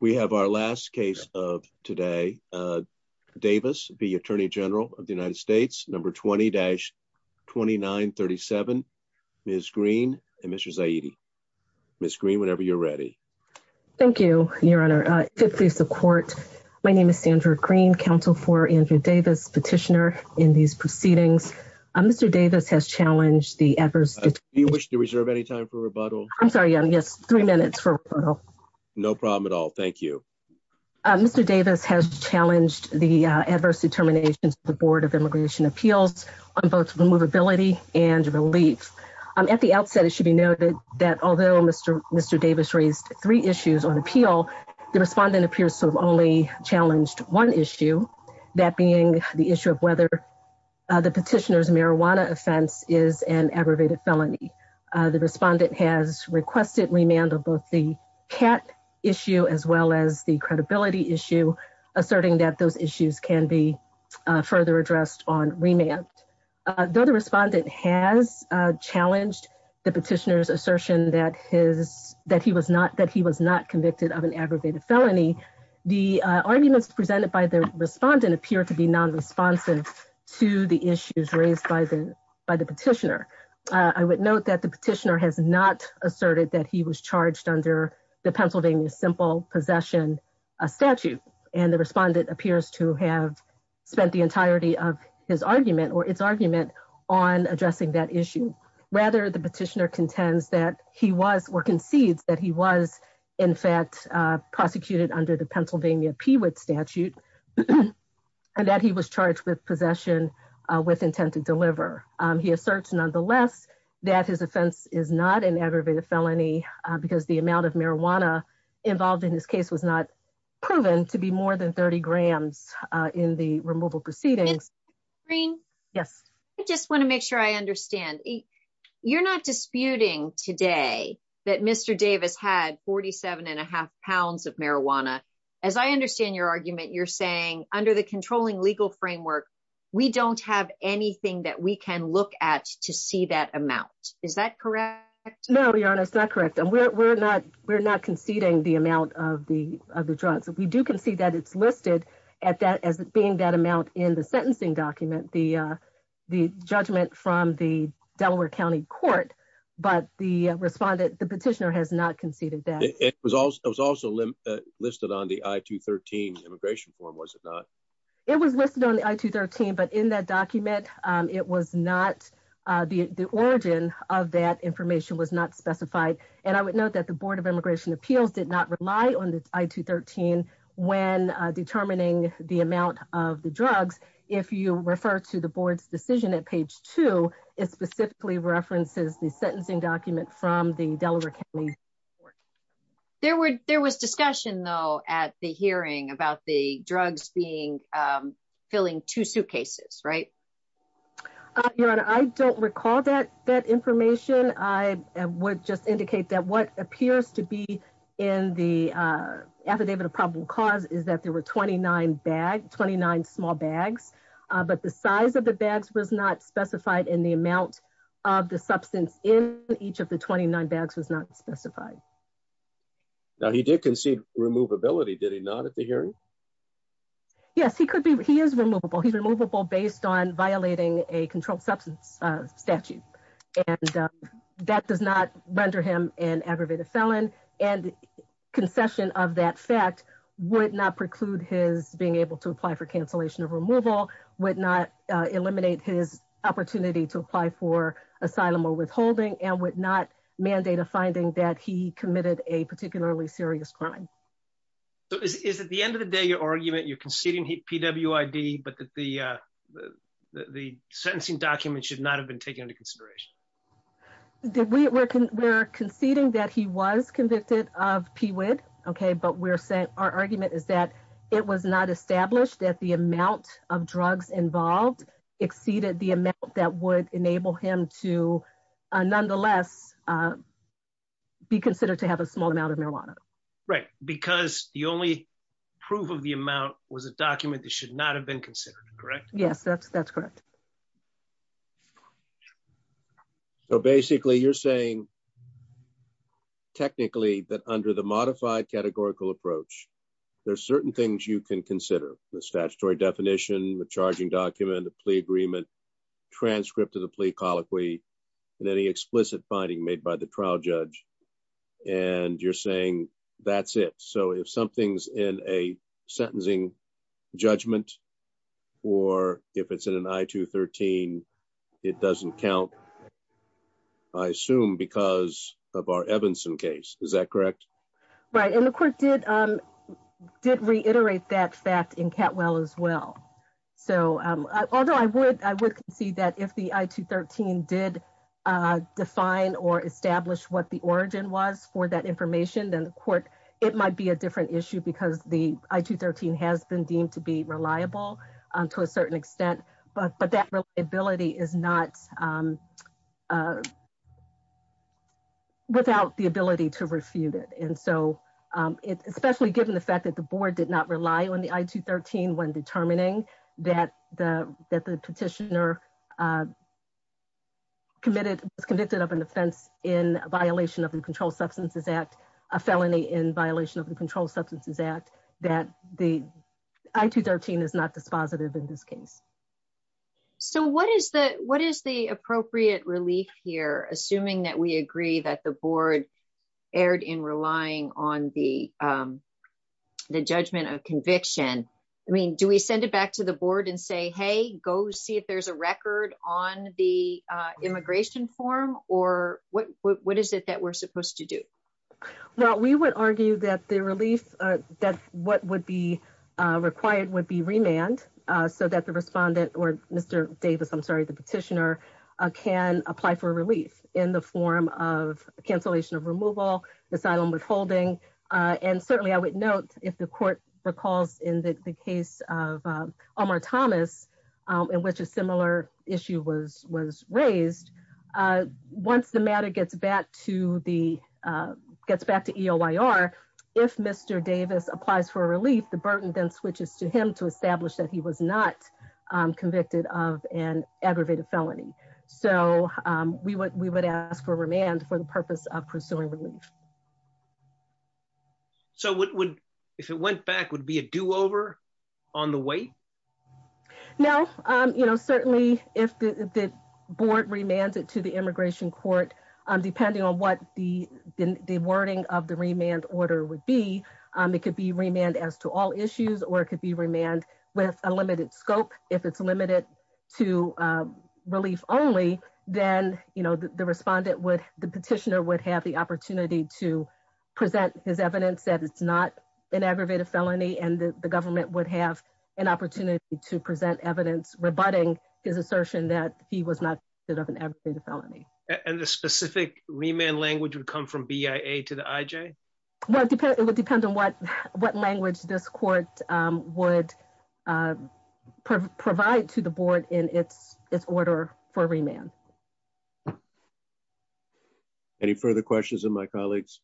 We have our last case of today. Uh, Davis, the Attorney General of the United States. Number 20-29 37. Ms Green and Mr Zaidi. Ms Green, whenever you're ready. Thank you, Your Honor. Uh, 50 support. My name is Sandra Green Council for Andrew Davis petitioner in these proceedings. Mr Davis has challenged the adverse. You wish to reserve any time for rebuttal. I'm a problem at all. Thank you. Mr Davis has challenged the adverse determinations of the Board of Immigration Appeals on both removability and relief. Um, at the outset, it should be noted that although Mr Mr Davis raised three issues on appeal, the respondent appears to have only challenged one issue, that being the issue of whether the petitioner's marijuana offense is an aggravated felony. The respondent has requested remand of both the cat issue as well as the credibility issue, asserting that those issues can be further addressed on remand. The other respondent has challenged the petitioner's assertion that his that he was not that he was not convicted of an aggravated felony. The arguments presented by the respondent appear to be non responsive to the issues raised by the by the petitioner. I would note that the petitioner has not asserted that he was charged under the Pennsylvania simple possession a statute, and the respondent appears to have spent the entirety of his argument or its argument on addressing that issue. Rather, the petitioner contends that he was or concedes that he was, in fact, prosecuted under the Pennsylvania Peewit statute and that he was charged with possession with intent to deliver. He asserts, nonetheless, that his offense is not an aggravated felony because the amount of marijuana involved in this case was not proven to be more than 30 grams in the removal proceedings. Green. Yes, I just want to make sure I understand you're not disputing today that Mr Davis had 47.5 pounds of marijuana. As I understand your argument, you're saying under the controlling legal framework, we don't have anything that we can look at to see that amount. Is that correct? No, we aren't. It's not correct. And we're not. We're not conceding the amount of the of the drugs that we do can see that it's listed at that as being that amount in the sentencing document. The the judgment from the Delaware County Court. But the respondent, the petitioner has not conceded that it was also it was also listed on the I to 13 immigration form. Was it not? It was not. Uh, the origin of that information was not specified. And I would note that the Board of Immigration Appeals did not rely on the I to 13 when determining the amount of the drugs. If you refer to the board's decision at page two, it specifically references the sentencing document from the Delaware County. There were there was discussion, though, at the hearing about the drugs being, um, filling two suitcases, right? Your Honor, I don't recall that that information. I would just indicate that what appears to be in the affidavit of probable cause is that there were 29 bag 29 small bags. But the size of the bags was not specified in the amount of the substance in each of the 29 bags was not specified. Now, he did concede removability, did he not at the hearing? Yes, he could be. He is removable. He's removable based on violating a controlled substance statute, and that does not render him an aggravated felon and concession of that fact would not preclude his being able to apply for cancellation of removal, would not eliminate his opportunity to apply for committed a particularly serious crime. So is is at the end of the day, your argument you're conceding P. W. I. D. But the, uh, the sentencing document should not have been taken into consideration. Did we were conceding that he was convicted of P. W. I. D. Okay, but we're saying our argument is that it was not established that the amount of drugs involved exceeded the amount that would enable him to, uh, nonetheless, uh, be considered to have a small amount of marijuana, right? Because the only proof of the amount was a document that should not have been considered. Correct? Yes, that's that's correct. So basically, you're saying technically that under the modified categorical approach, there's certain things you can consider the statutory definition, the charging document, the plea agreement, transcript of the plea colloquy and any explicit finding made by the trial judge. And you're saying that's it. So if something's in a sentencing judgment or if it's in an I to 13, it doesn't count. I assume because of our Evanson case. Is that correct? Right. And the court did, um, did reiterate that fact in cat well as well. So although I would, I would see that if the I to 13 did, uh, define or establish what the origin was for that information, then the court, it might be a different issue because the I to 13 has been deemed to be reliable to a certain extent. But that ability is not, um, uh, without the ability to refute it. And so, um, especially given the fact that the board did not rely on the I to 13 when determining that the petitioner uh, committed was convicted of an offense in violation of the Control Substances Act, a felony in violation of the Control Substances Act that the I to 13 is not dispositive in this case. So what is the, what is the appropriate relief here? Assuming that we agree that the board erred in relying on the, um, the judgment of conviction. I mean, do we send it back to the board and say, hey, go see if there's a record on the immigration form or what, what is it that we're supposed to do? Well, we would argue that the relief that what would be required would be remand so that the respondent or Mr Davis, I'm sorry, the petitioner can apply for relief in the form of cancellation of removal, asylum withholding. Uh, and of, um, Omar Thomas, um, in which a similar issue was, was raised. Uh, once the matter gets back to the, uh, gets back to EOIR, if Mr Davis applies for a relief, the burden then switches to him to establish that he was not convicted of an aggravated felony. So, um, we would, we would ask for remand for the purpose of pursuing relief. So what would, if it went back, would it be a do over on the wait? No. Um, you know, certainly if the board remanded to the immigration court, um, depending on what the, the wording of the remand order would be, um, it could be remand as to all issues or it could be remand with a limited scope. If it's limited to, um, relief only, then, you know, the respondent would, the petitioner would have the opportunity to present his evidence that it's not an aggravated felony and the government would have an opportunity to present evidence rebutting his assertion that he was not convicted of an aggravated felony. And the specific remand language would come from BIA to the IJ? Well, it depends. It would depend on what, what language this court, um, would, uh, provide to the board in its, its order for remand. Yeah. Any further questions of my colleagues?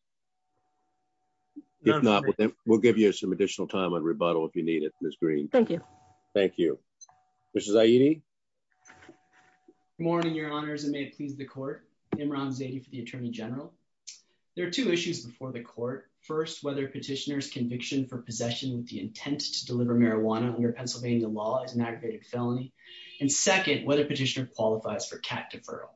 If not, we'll give you some additional time on rebuttal if you need it. Ms. Green. Thank you. Thank you. This is IED morning, your honors and may it please the court. Imran Zaidi for the attorney general. There are two issues before the court. First, whether petitioners conviction for possession with the intent to deliver marijuana under Pennsylvania law is an aggravated felony. And second, whether petitioner qualifies for cat deferral.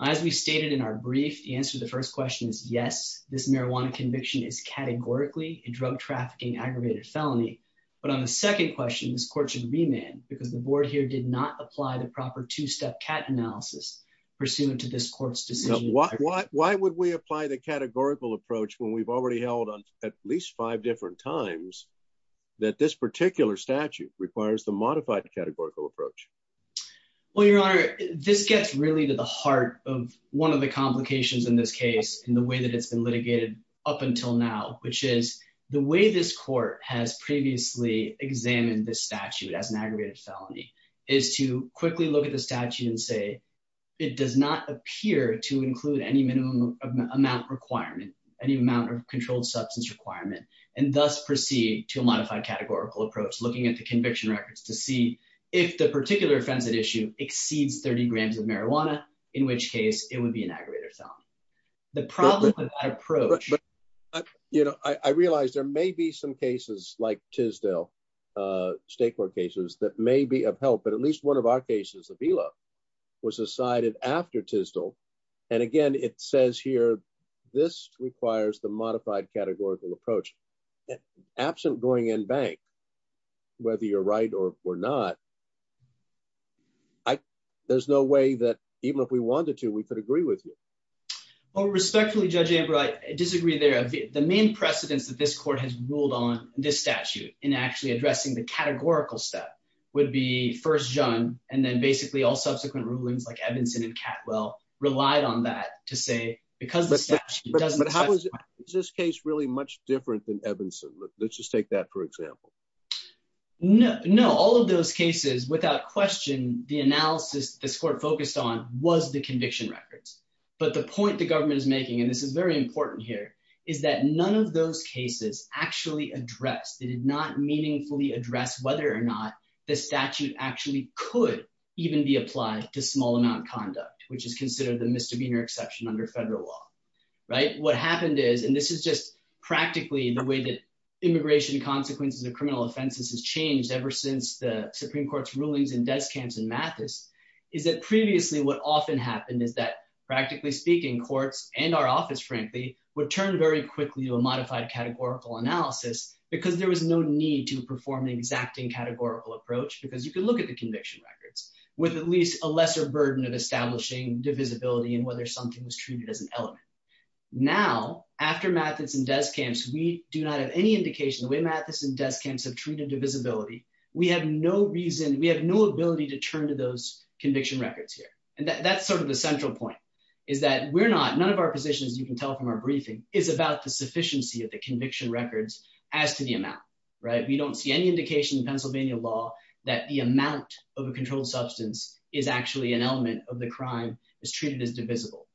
As we stated in our brief, the answer to the first question is yes, this marijuana conviction is categorically a drug trafficking aggravated felony. But on the second question, this court should remand because the board here did not apply the proper two step cat analysis pursuant to this court's decision. Why would we apply the categorical approach when we've already held on at least five different times that this particular statute requires the modified categorical approach? Well, your honor, this gets really to the heart of one of the complications in this case and the way that it's been litigated up until now, which is the way this court has previously examined this statute as an aggravated felony is to quickly look at the statute and say it does not appear to include any minimum amount requirement, any amount of controlled substance requirement and thus proceed to a modified categorical approach looking at the 30 grams of marijuana, in which case it would be an aggravated felony. The problem with that approach. You know, I realized there may be some cases like Tisdale, state court cases that may be of help, but at least one of our cases, Avila was decided after Tisdale. And again, it says here, this requires the modified categorical approach absent going in bank, whether you're right or not. I, there's no way that even if we wanted to, we could agree with you. Well, respectfully, Judge Amber, I disagree there. The main precedence that this court has ruled on this statute in actually addressing the categorical step would be first John. And then basically all subsequent rulings like Evanson and Catwell relied on that to say, because it doesn't happen. Is this case really much different than Evanson? Let's just take that for example. No, no. All of those cases without question, the analysis this court focused on was the conviction records. But the point the government is making, and this is very important here, is that none of those cases actually addressed. They did not meaningfully address whether or not the statute actually could even be applied to small amount conduct, which is considered the misdemeanor exception under federal law, right? What happened is, and this is just practically the way that immigration consequences of criminal offenses has changed ever since the Supreme Court's rulings in Deskamps and Mathis, is that previously what often happened is that, practically speaking, courts and our office, frankly, would turn very quickly to a modified categorical analysis because there was no need to perform an exacting categorical approach because you can look at the conviction records with at least a lesser burden of establishing divisibility and whether something was treated as an element. Now, after Mathis and Deskamps, we do not have any indication the way Mathis and Deskamps have treated divisibility. We have no reason, we have no ability to turn to those conviction records here. And that's sort of the central point is that we're not, none of our positions, you can tell from our briefing, is about the sufficiency of the conviction records as to the amount, right? We don't see any indication in Pennsylvania law that the amount of a controlled substance is actually an element of the crime is treated as divisible.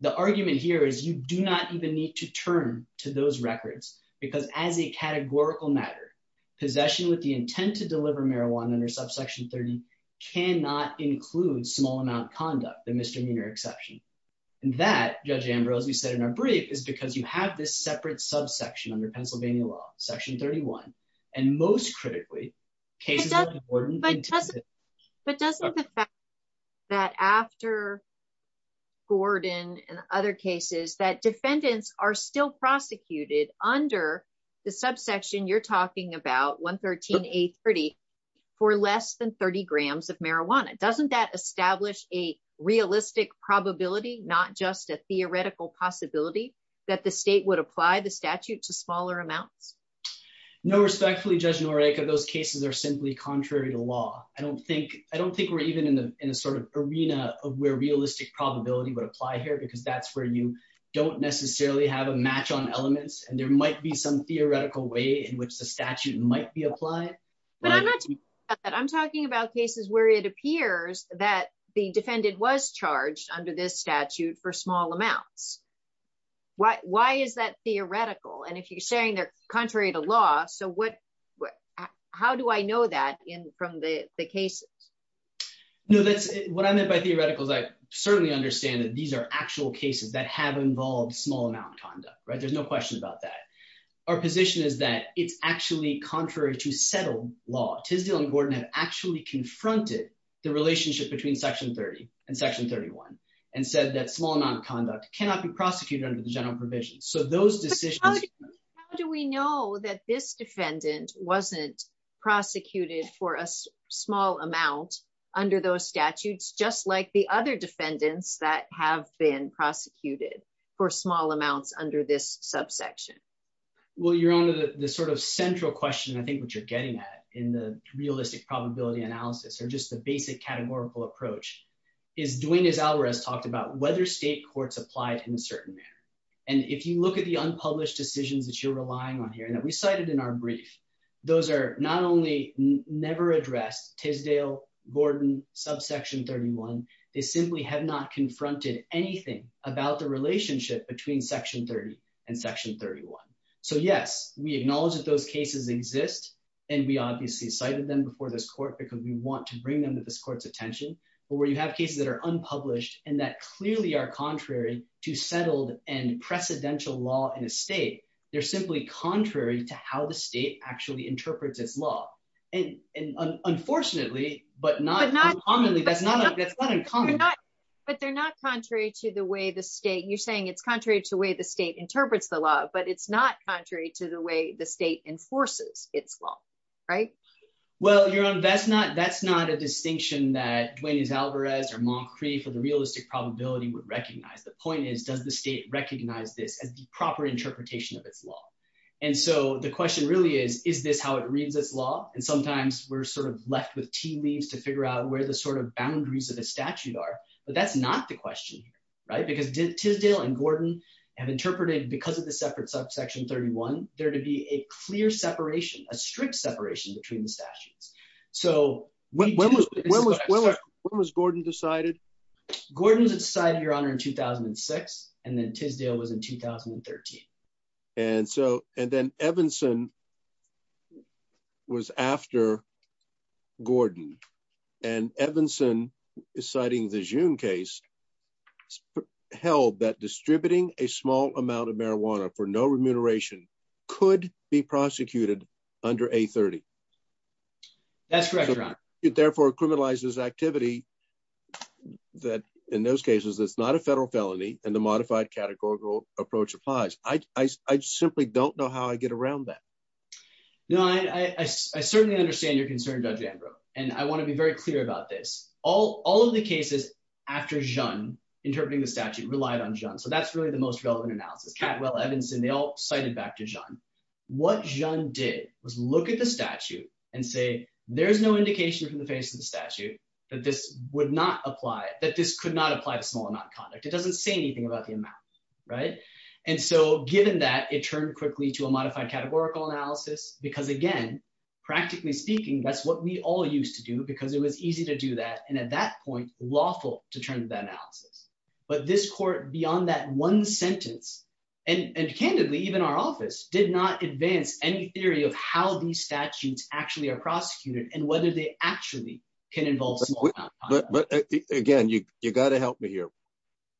The argument here is you do not even need to turn to those records because as a categorical matter, possession with the intent to deliver marijuana under subsection 30 cannot include small amount conduct, the misdemeanor exception. And that, Judge Ambrose, you said in our brief, is because you have this separate subsection under Pennsylvania law, section 31, and most critically, cases of But doesn't, but doesn't the fact that after Gordon and other cases that defendants are still prosecuted under the subsection you're talking about, 113A30, for less than 30 grams of marijuana, doesn't that establish a realistic probability, not just a theoretical possibility, that the state would apply the statute to smaller amounts? No, respectfully, Judge Noriega, those cases are simply contrary to law. I don't think I don't think we're even in a sort of arena of where realistic probability would apply here because that's where you don't necessarily have a match on elements and there might be some theoretical way in which the statute might be applied. But I'm not talking about that. I'm talking about cases where it appears that the defendant was charged under this statute for small amounts. Why is that theoretical? And if you're saying they're contrary to law, so what, how do I know that in from the cases? No, that's what I meant by theoretical is I certainly understand that these are actual cases that have involved small amount conduct, right? There's no question about that. Our position is that it's actually contrary to settled law. Tisdale and Gordon have actually confronted the relationship between section 30 and section 31 and said that small amount of conduct cannot be prosecuted under the general provisions. So those decisions, how do we know that this defendant wasn't prosecuted for a small amount under those statutes, just like the other defendants that have been prosecuted for small amounts under this subsection? Well, you're on the sort of central question. I think what you're getting at in the realistic probability analysis or just the basic categorical approach is doing is Alvarez talked about whether state courts applied in a certain manner. And if you look at the unpublished decisions that you're relying on here that we cited in our brief, those are not only never addressed Tisdale, Gordon, subsection 31, they simply have not confronted anything about the relationship between section 30 and section 31. So yes, we acknowledge that those cases exist and we obviously cited them before this court because we want to bring them to this court's attention, but where you have cases that are unpublished and that clearly are contrary to settled and precedential law in a state, they're simply contrary to how the state actually interprets its law. And unfortunately, but not uncommonly, that's not uncommon. But they're not contrary to the way the state, you're saying it's contrary to the way the state interprets the law, but it's not contrary to the way the state enforces its law, right? Well, you're on, that's not, that's not a distinction that Duane is Alvarez or Moncrieff or the realistic probability would recognize. The point is, does the state recognize this as the proper interpretation of its law? And so the question really is, is this how it reads its law? And sometimes we're sort of left with tea leaves to figure out where the sort of boundaries of the statute are, but that's not the question, right? Because Tisdale and Gordon have interpreted because of the separate subsection 31, there to be a clear separation, a strict separation between the statutes. So when was Gordon decided? Gordon's decided, your honor, in 2006. And then Tisdale was in 2013. And so, and then Evanson was after Gordon and Evanson is citing the June case held that distributing a small amount of marijuana for no remuneration could be prosecuted under a 30. That's correct, your honor. It therefore criminalizes activity that in those cases, it's not a federal felony and the modified categorical approach applies. I, I, I simply don't know how I get around that. No, I, I, I certainly understand your concern judge Ambrose. And I want to be very clear about this. All, all of the cases after John interpreting the statute relied on John. So that's really the most relevant analysis. Catwell, Evanson, they all cited back to John. What John did was look at the statute and say, there's no indication from the face of the statute that this would not apply, that this could not apply to small amount of conduct. It doesn't say anything about the amount, right? And so given that it turned quickly to a modified categorical analysis because again, practically speaking, that's what we all used to do because it was easy to do that. And at that point lawful to turn to that analysis, but this court beyond that one sentence and candidly, even our office did not advance any theory of how these statutes actually are prosecuted and whether they actually can involve small amount of conduct. But again, you, you got to help me here.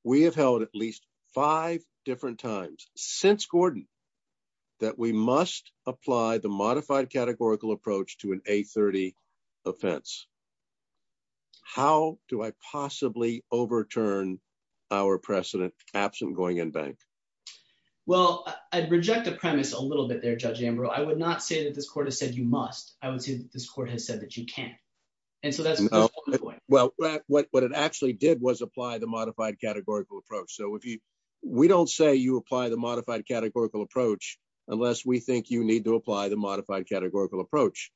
We have held at least five different times since Gordon, that we must apply the modified categorical approach to an A30 offense. How do I possibly overturn our precedent absent going in bank? Well, I'd reject the premise a little bit there, Judge Ambrose. I would not say that this court has said you must. I would say that this court has said that you can. And so that's, well, what it actually did was apply the modified categorical approach. So if you, we don't say you apply the modified categorical approach, unless we think you need to apply the modified categorical approach.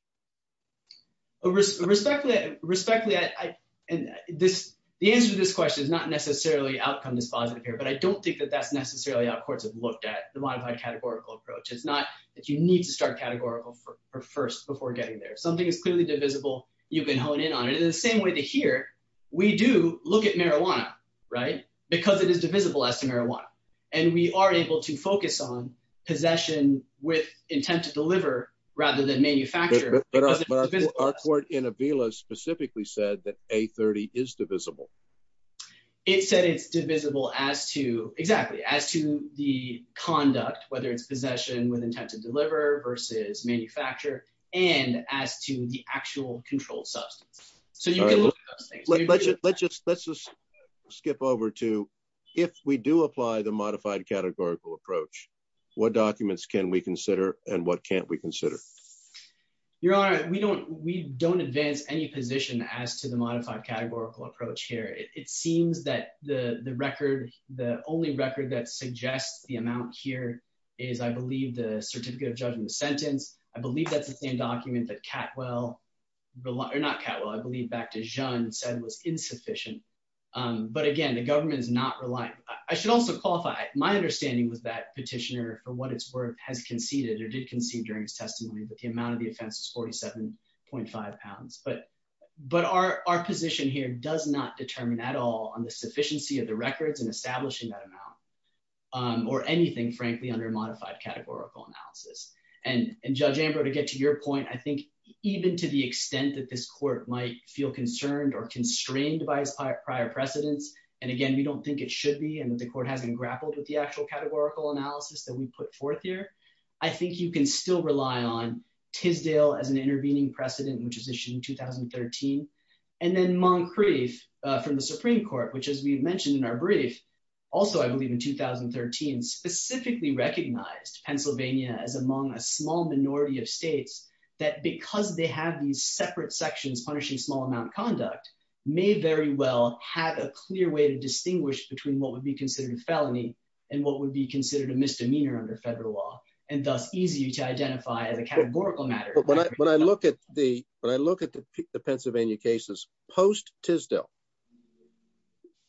Respectfully, respectfully, I, and this, the answer to this question is not necessarily outcome dispositive here, but I don't think that that's necessarily how courts have looked at the modified categorical approach. It's not that you need to start categorical for first before getting there. Something is clearly divisible. You can hone in on it in the same way to here. We do look at marijuana, right? Because it is divisible as to marijuana. And we are able to focus on possession with intent to deliver rather than manufacture. But our court in Avila specifically said that A30 is divisible. It said it's divisible as to exactly as to the conduct, whether it's possession with intent to deliver versus manufacture and as to the actual controlled substance. So you can look at those things. Let's just skip over to if we do apply the modified categorical approach, what documents can we consider and what can't we consider? Your honor, we don't advance any position as to the modified categorical approach here. It seems that the record, the only record that suggests the amount here is I believe the certificate of judgment sentence. I believe that's the same document that Catwell, not Catwell, I believe back to Jeanne said was insufficient. But again, the government is not reliant. I should also qualify. My understanding was that petitioner for what it's worth has conceded or did concede during his testimony, but the amount of the offense is 47.5 pounds. But our position here does not determine at all on the sufficiency of the records and establishing that amount or anything frankly under modified categorical analysis. And Judge Ambrose, to get to your point, I think even to the extent that this court might feel concerned or constrained by his prior precedents, and again, we don't think it should be and that the court hasn't grappled with the actual categorical analysis that we put forth here. I think you can still rely on Tisdale as an intervening precedent, which was issued in 2013. And then Moncrief from the Supreme Court, which as we mentioned in our brief, also, I believe in 2013, specifically recognized Pennsylvania as among a small minority of states that because they have these separate sections punishing small amount conduct may very well have a clear way to distinguish between what would be considered felony and what would be considered a misdemeanor under federal law and thus easy to identify as a categorical matter. But when I look at the Pennsylvania cases post-Tisdale,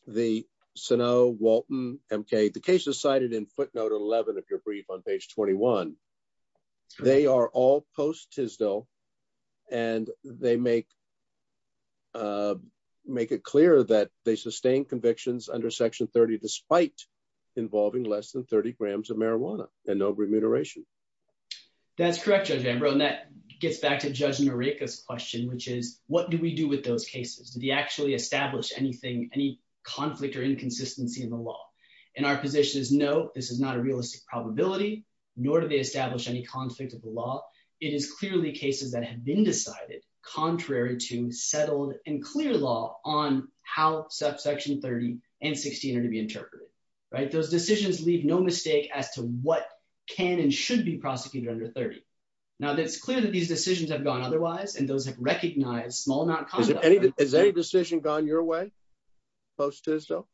the Sano, Walton, MK, the cases cited in footnote 11 of your brief on page 21, they are all post-Tisdale and they make it clear that they sustain convictions under section 30 despite involving less than 30 grams of marijuana and no remuneration. That's correct, Judge Ambrose, and that gets back to Judge Noriega's question, which is what do we do with those cases? Do they actually establish anything, any conflict or inconsistency in the law? And our position is no, this is not a realistic probability, nor do they establish any conflict of the law. It is clearly cases that have been decided contrary to settled and clear law on how section 30 and 16 are to be interpreted. Those decisions leave no mistake as to what can and should be prosecuted under 30. Now that it's clear that these decisions have gone otherwise and those have recognized small amount of conduct. Has any decision gone your way post-Tisdale?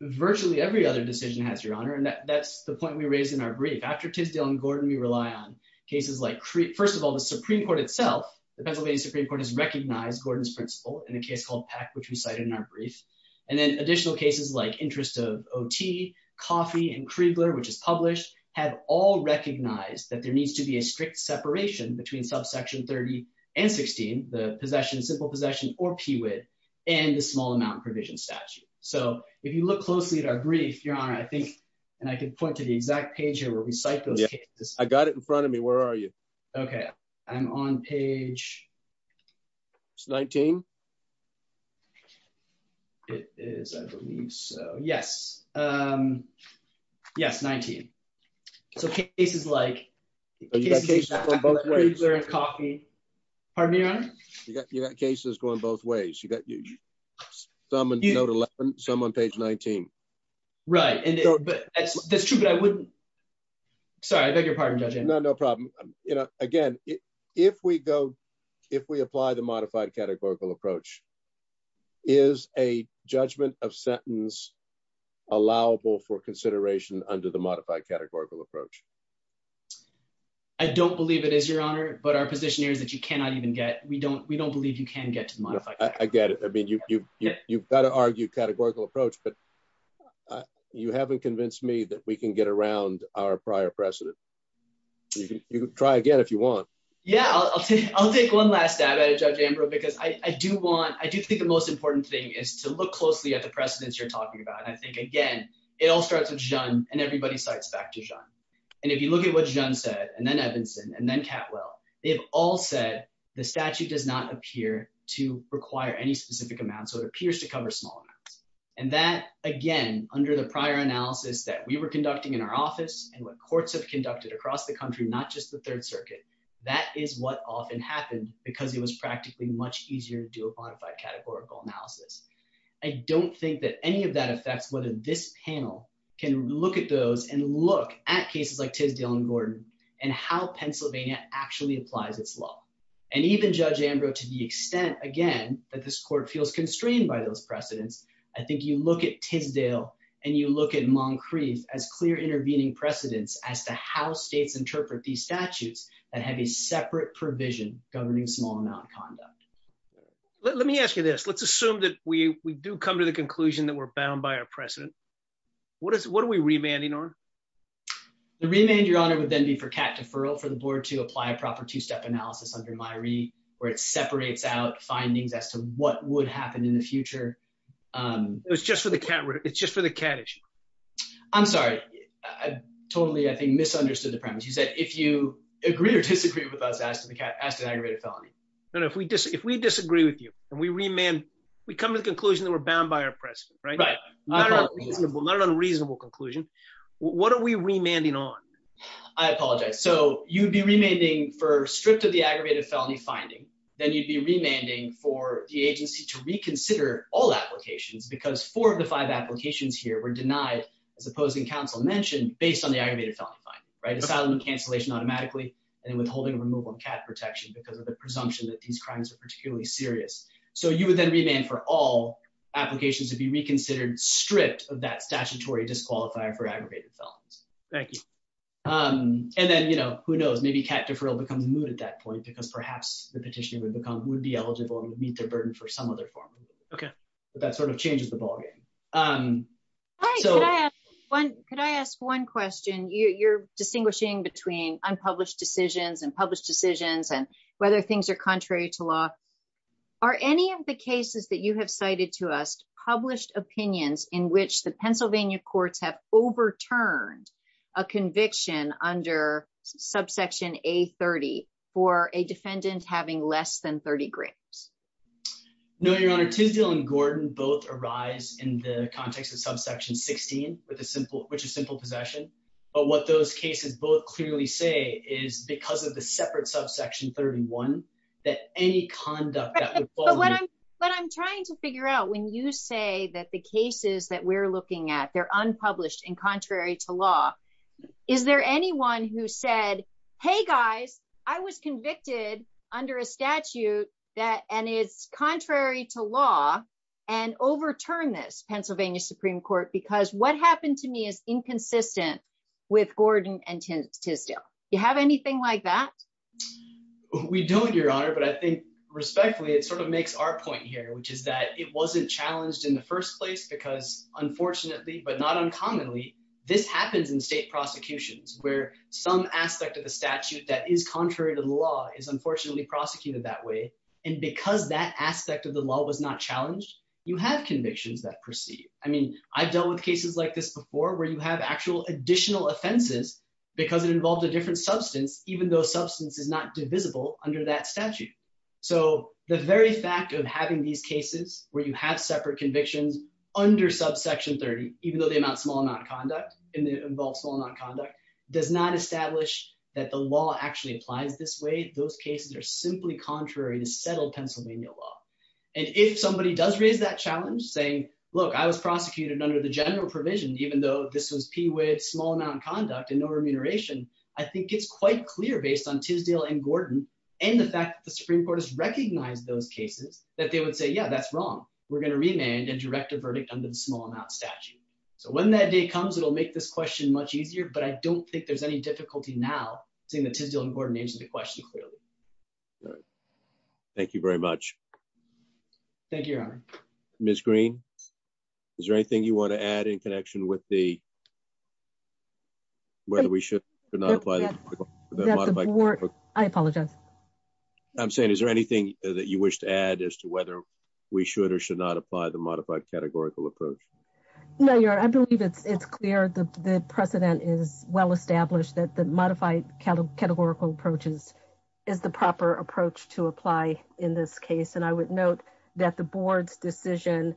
Virtually every other decision has, Your Honor, and that's the point we raised in our brief. After Tisdale and Gordon, we rely on cases like, first of all, the Supreme Court itself, the Pennsylvania Supreme Court has recognized Gordon's principle in a case called Peck, which we cited in our brief, and then additional cases like interest of OT, Coffee, and Kriegler, which is published, have all recognized that there needs to be a strict separation between subsection 30 and 16, the simple possession or PWID, and the small amount provision statute. So if you look closely at our brief, Your Honor, I think, and I can point to the exact page here where we cite those cases. I got it in front of me. Where are you? Okay, I'm on page 19. It is, I believe so. Yes. Yes, 19. So cases like Kriegler and Coffee. Pardon me, Your Honor? You got cases going both ways. You got some on note 11, some on page 19. Right, and that's true, but I wouldn't, sorry, I beg your pardon, Judge Andrews. No, no problem. You know, again, if we go, if we apply the modified categorical approach, is a judgment of sentence allowable for consideration under the modified categorical approach? I don't believe it is, Your Honor, but our position here is that you cannot even get, we don't believe you can get to modify. I get it. I mean, you've got to argue categorical approach, but you haven't convinced me that we can get around our prior precedent. You can try again if you want. Yeah, I'll take one last stab at it, Judge Ambrose, because I do want, I do think the most important thing is to look closely at the precedents you're talking about. And I think again, it all starts with Jeanne and everybody cites back to Jeanne. And if you look at what Jeanne said, and then Evanson, and then Catwell, they've all said the statute does not appear to require any specific amount. So it appears to cover small amounts. And that, again, under the prior analysis that we were conducting in our office and what courts have conducted across the country, not just the Third Circuit, that is what often happened because it was practically much easier to do a modified categorical analysis. I don't think that any of that affects whether this panel can look at those and look at cases like Tisdale and Gordon and how Pennsylvania actually applies its law. And even Judge Ambrose, to the extent, again, that this court feels constrained by those precedents. I think you look at Tisdale and you look at Moncrief as clear intervening precedents as to how states interpret these in small amount of conduct. Let me ask you this. Let's assume that we do come to the conclusion that we're bound by our precedent. What are we remanding on? The remand, Your Honor, would then be for cat deferral for the board to apply a proper two-step analysis under Myrie where it separates out findings as to what would happen in the future. It's just for the cat issue. I'm sorry. I totally, I think, misunderstood the premise. You said if you agree or disagree with us, ask an aggravated felony. No, no, if we disagree with you and we remand, we come to the conclusion that we're bound by our precedent, right? Not an unreasonable conclusion. What are we remanding on? I apologize. So you'd be remanding for stripped of the aggravated felony finding. Then you'd be remanding for the agency to reconsider all applications because four of the five applications here were denied, as opposing counsel mentioned, based on the aggravated felony finding, right? Asylum cancellation automatically and withholding removal and cat protection because of the presumption that these crimes are particularly serious. So you would then remand for all applications to be reconsidered stripped of that statutory disqualifier for aggravated felons. Thank you. And then, you know, who knows? Maybe cat deferral becomes moot at that point because perhaps the petitioner would become, would be eligible and would meet their burden for some other form. Okay, but that sort of changes the ballgame. Could I ask one question? You're distinguishing between unpublished decisions and published decisions and whether things are contrary to law. Are any of the cases that you have cited to us published opinions in which the Pennsylvania courts have overturned a conviction under subsection A-30 for a defendant having less than 30 grams? No, Your Honor. Tisdale and Gordon both arise in the context of subsection 16 with a simple, which is simple possession. But what those cases both clearly say is because of the separate subsection 31, that any conduct that would fall under... But I'm trying to figure out when you say that the cases that we're looking at, they're unpublished and contrary to law. Is there anyone who said, hey guys, I was convicted under a statute that, and it's contrary to law, and overturned this Pennsylvania Supreme Court because what happened to me is inconsistent with Gordon and Tisdale. You have anything like that? We don't, Your Honor, but I think respectfully, it sort of makes our point here, which is that it wasn't challenged in the first place because unfortunately, but not uncommonly, this happens in state prosecutions where some aspect of the statute that is contrary to the law is unfortunately prosecuted that way. And because that aspect of the law was not challenged, you have convictions that proceed. I mean, I've dealt with cases like this before where you have actual additional offenses because it involved a different substance, even though substance is not divisible under that statute. So the very fact of having these cases where you have separate convictions under subsection 30, even though they amount to a small amount of conduct, and they involve small amount of conduct, does not establish that the law actually applies this way. Those cases are simply contrary to settled Pennsylvania law. And if somebody does raise that challenge saying, look, I was prosecuted under the general provision, even though this was P with small amount of conduct and no remuneration, I think it's quite clear based on Tisdale and Gordon and the fact that the Supreme Court has recognized those cases that they would say, yeah, that's wrong. We're going to remand and direct a verdict under the small amount statute. So when that day comes, it'll make this question much easier, but I don't think there's any difficulty now seeing the Tisdale and Gordon answer the question clearly. Thank you very much. Thank you, Your Honor. Ms. Green, is there anything you want to add in connection with whether we should or should not apply the modified categorical approach? I apologize. I'm saying is there anything that you wish to add as to whether we should or should not apply the modified categorical approach? No, Your Honor. I believe it's clear that the precedent is well established that the modified categorical approaches is the proper approach to apply in this case. And I would note that the board's decision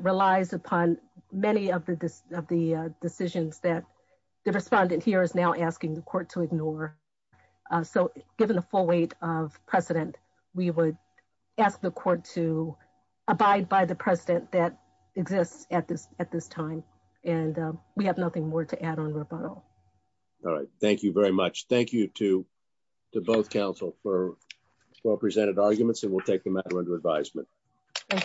relies upon many of the decisions that the respondent here is now asking the court to ignore. So given the full weight of precedent, we would ask the court to abide by the precedent that exists at this time and we have nothing more to add on rebuttal. All right. Thank you very much. Thank you to both counsel for well-presented arguments and we'll take the matter under advisement.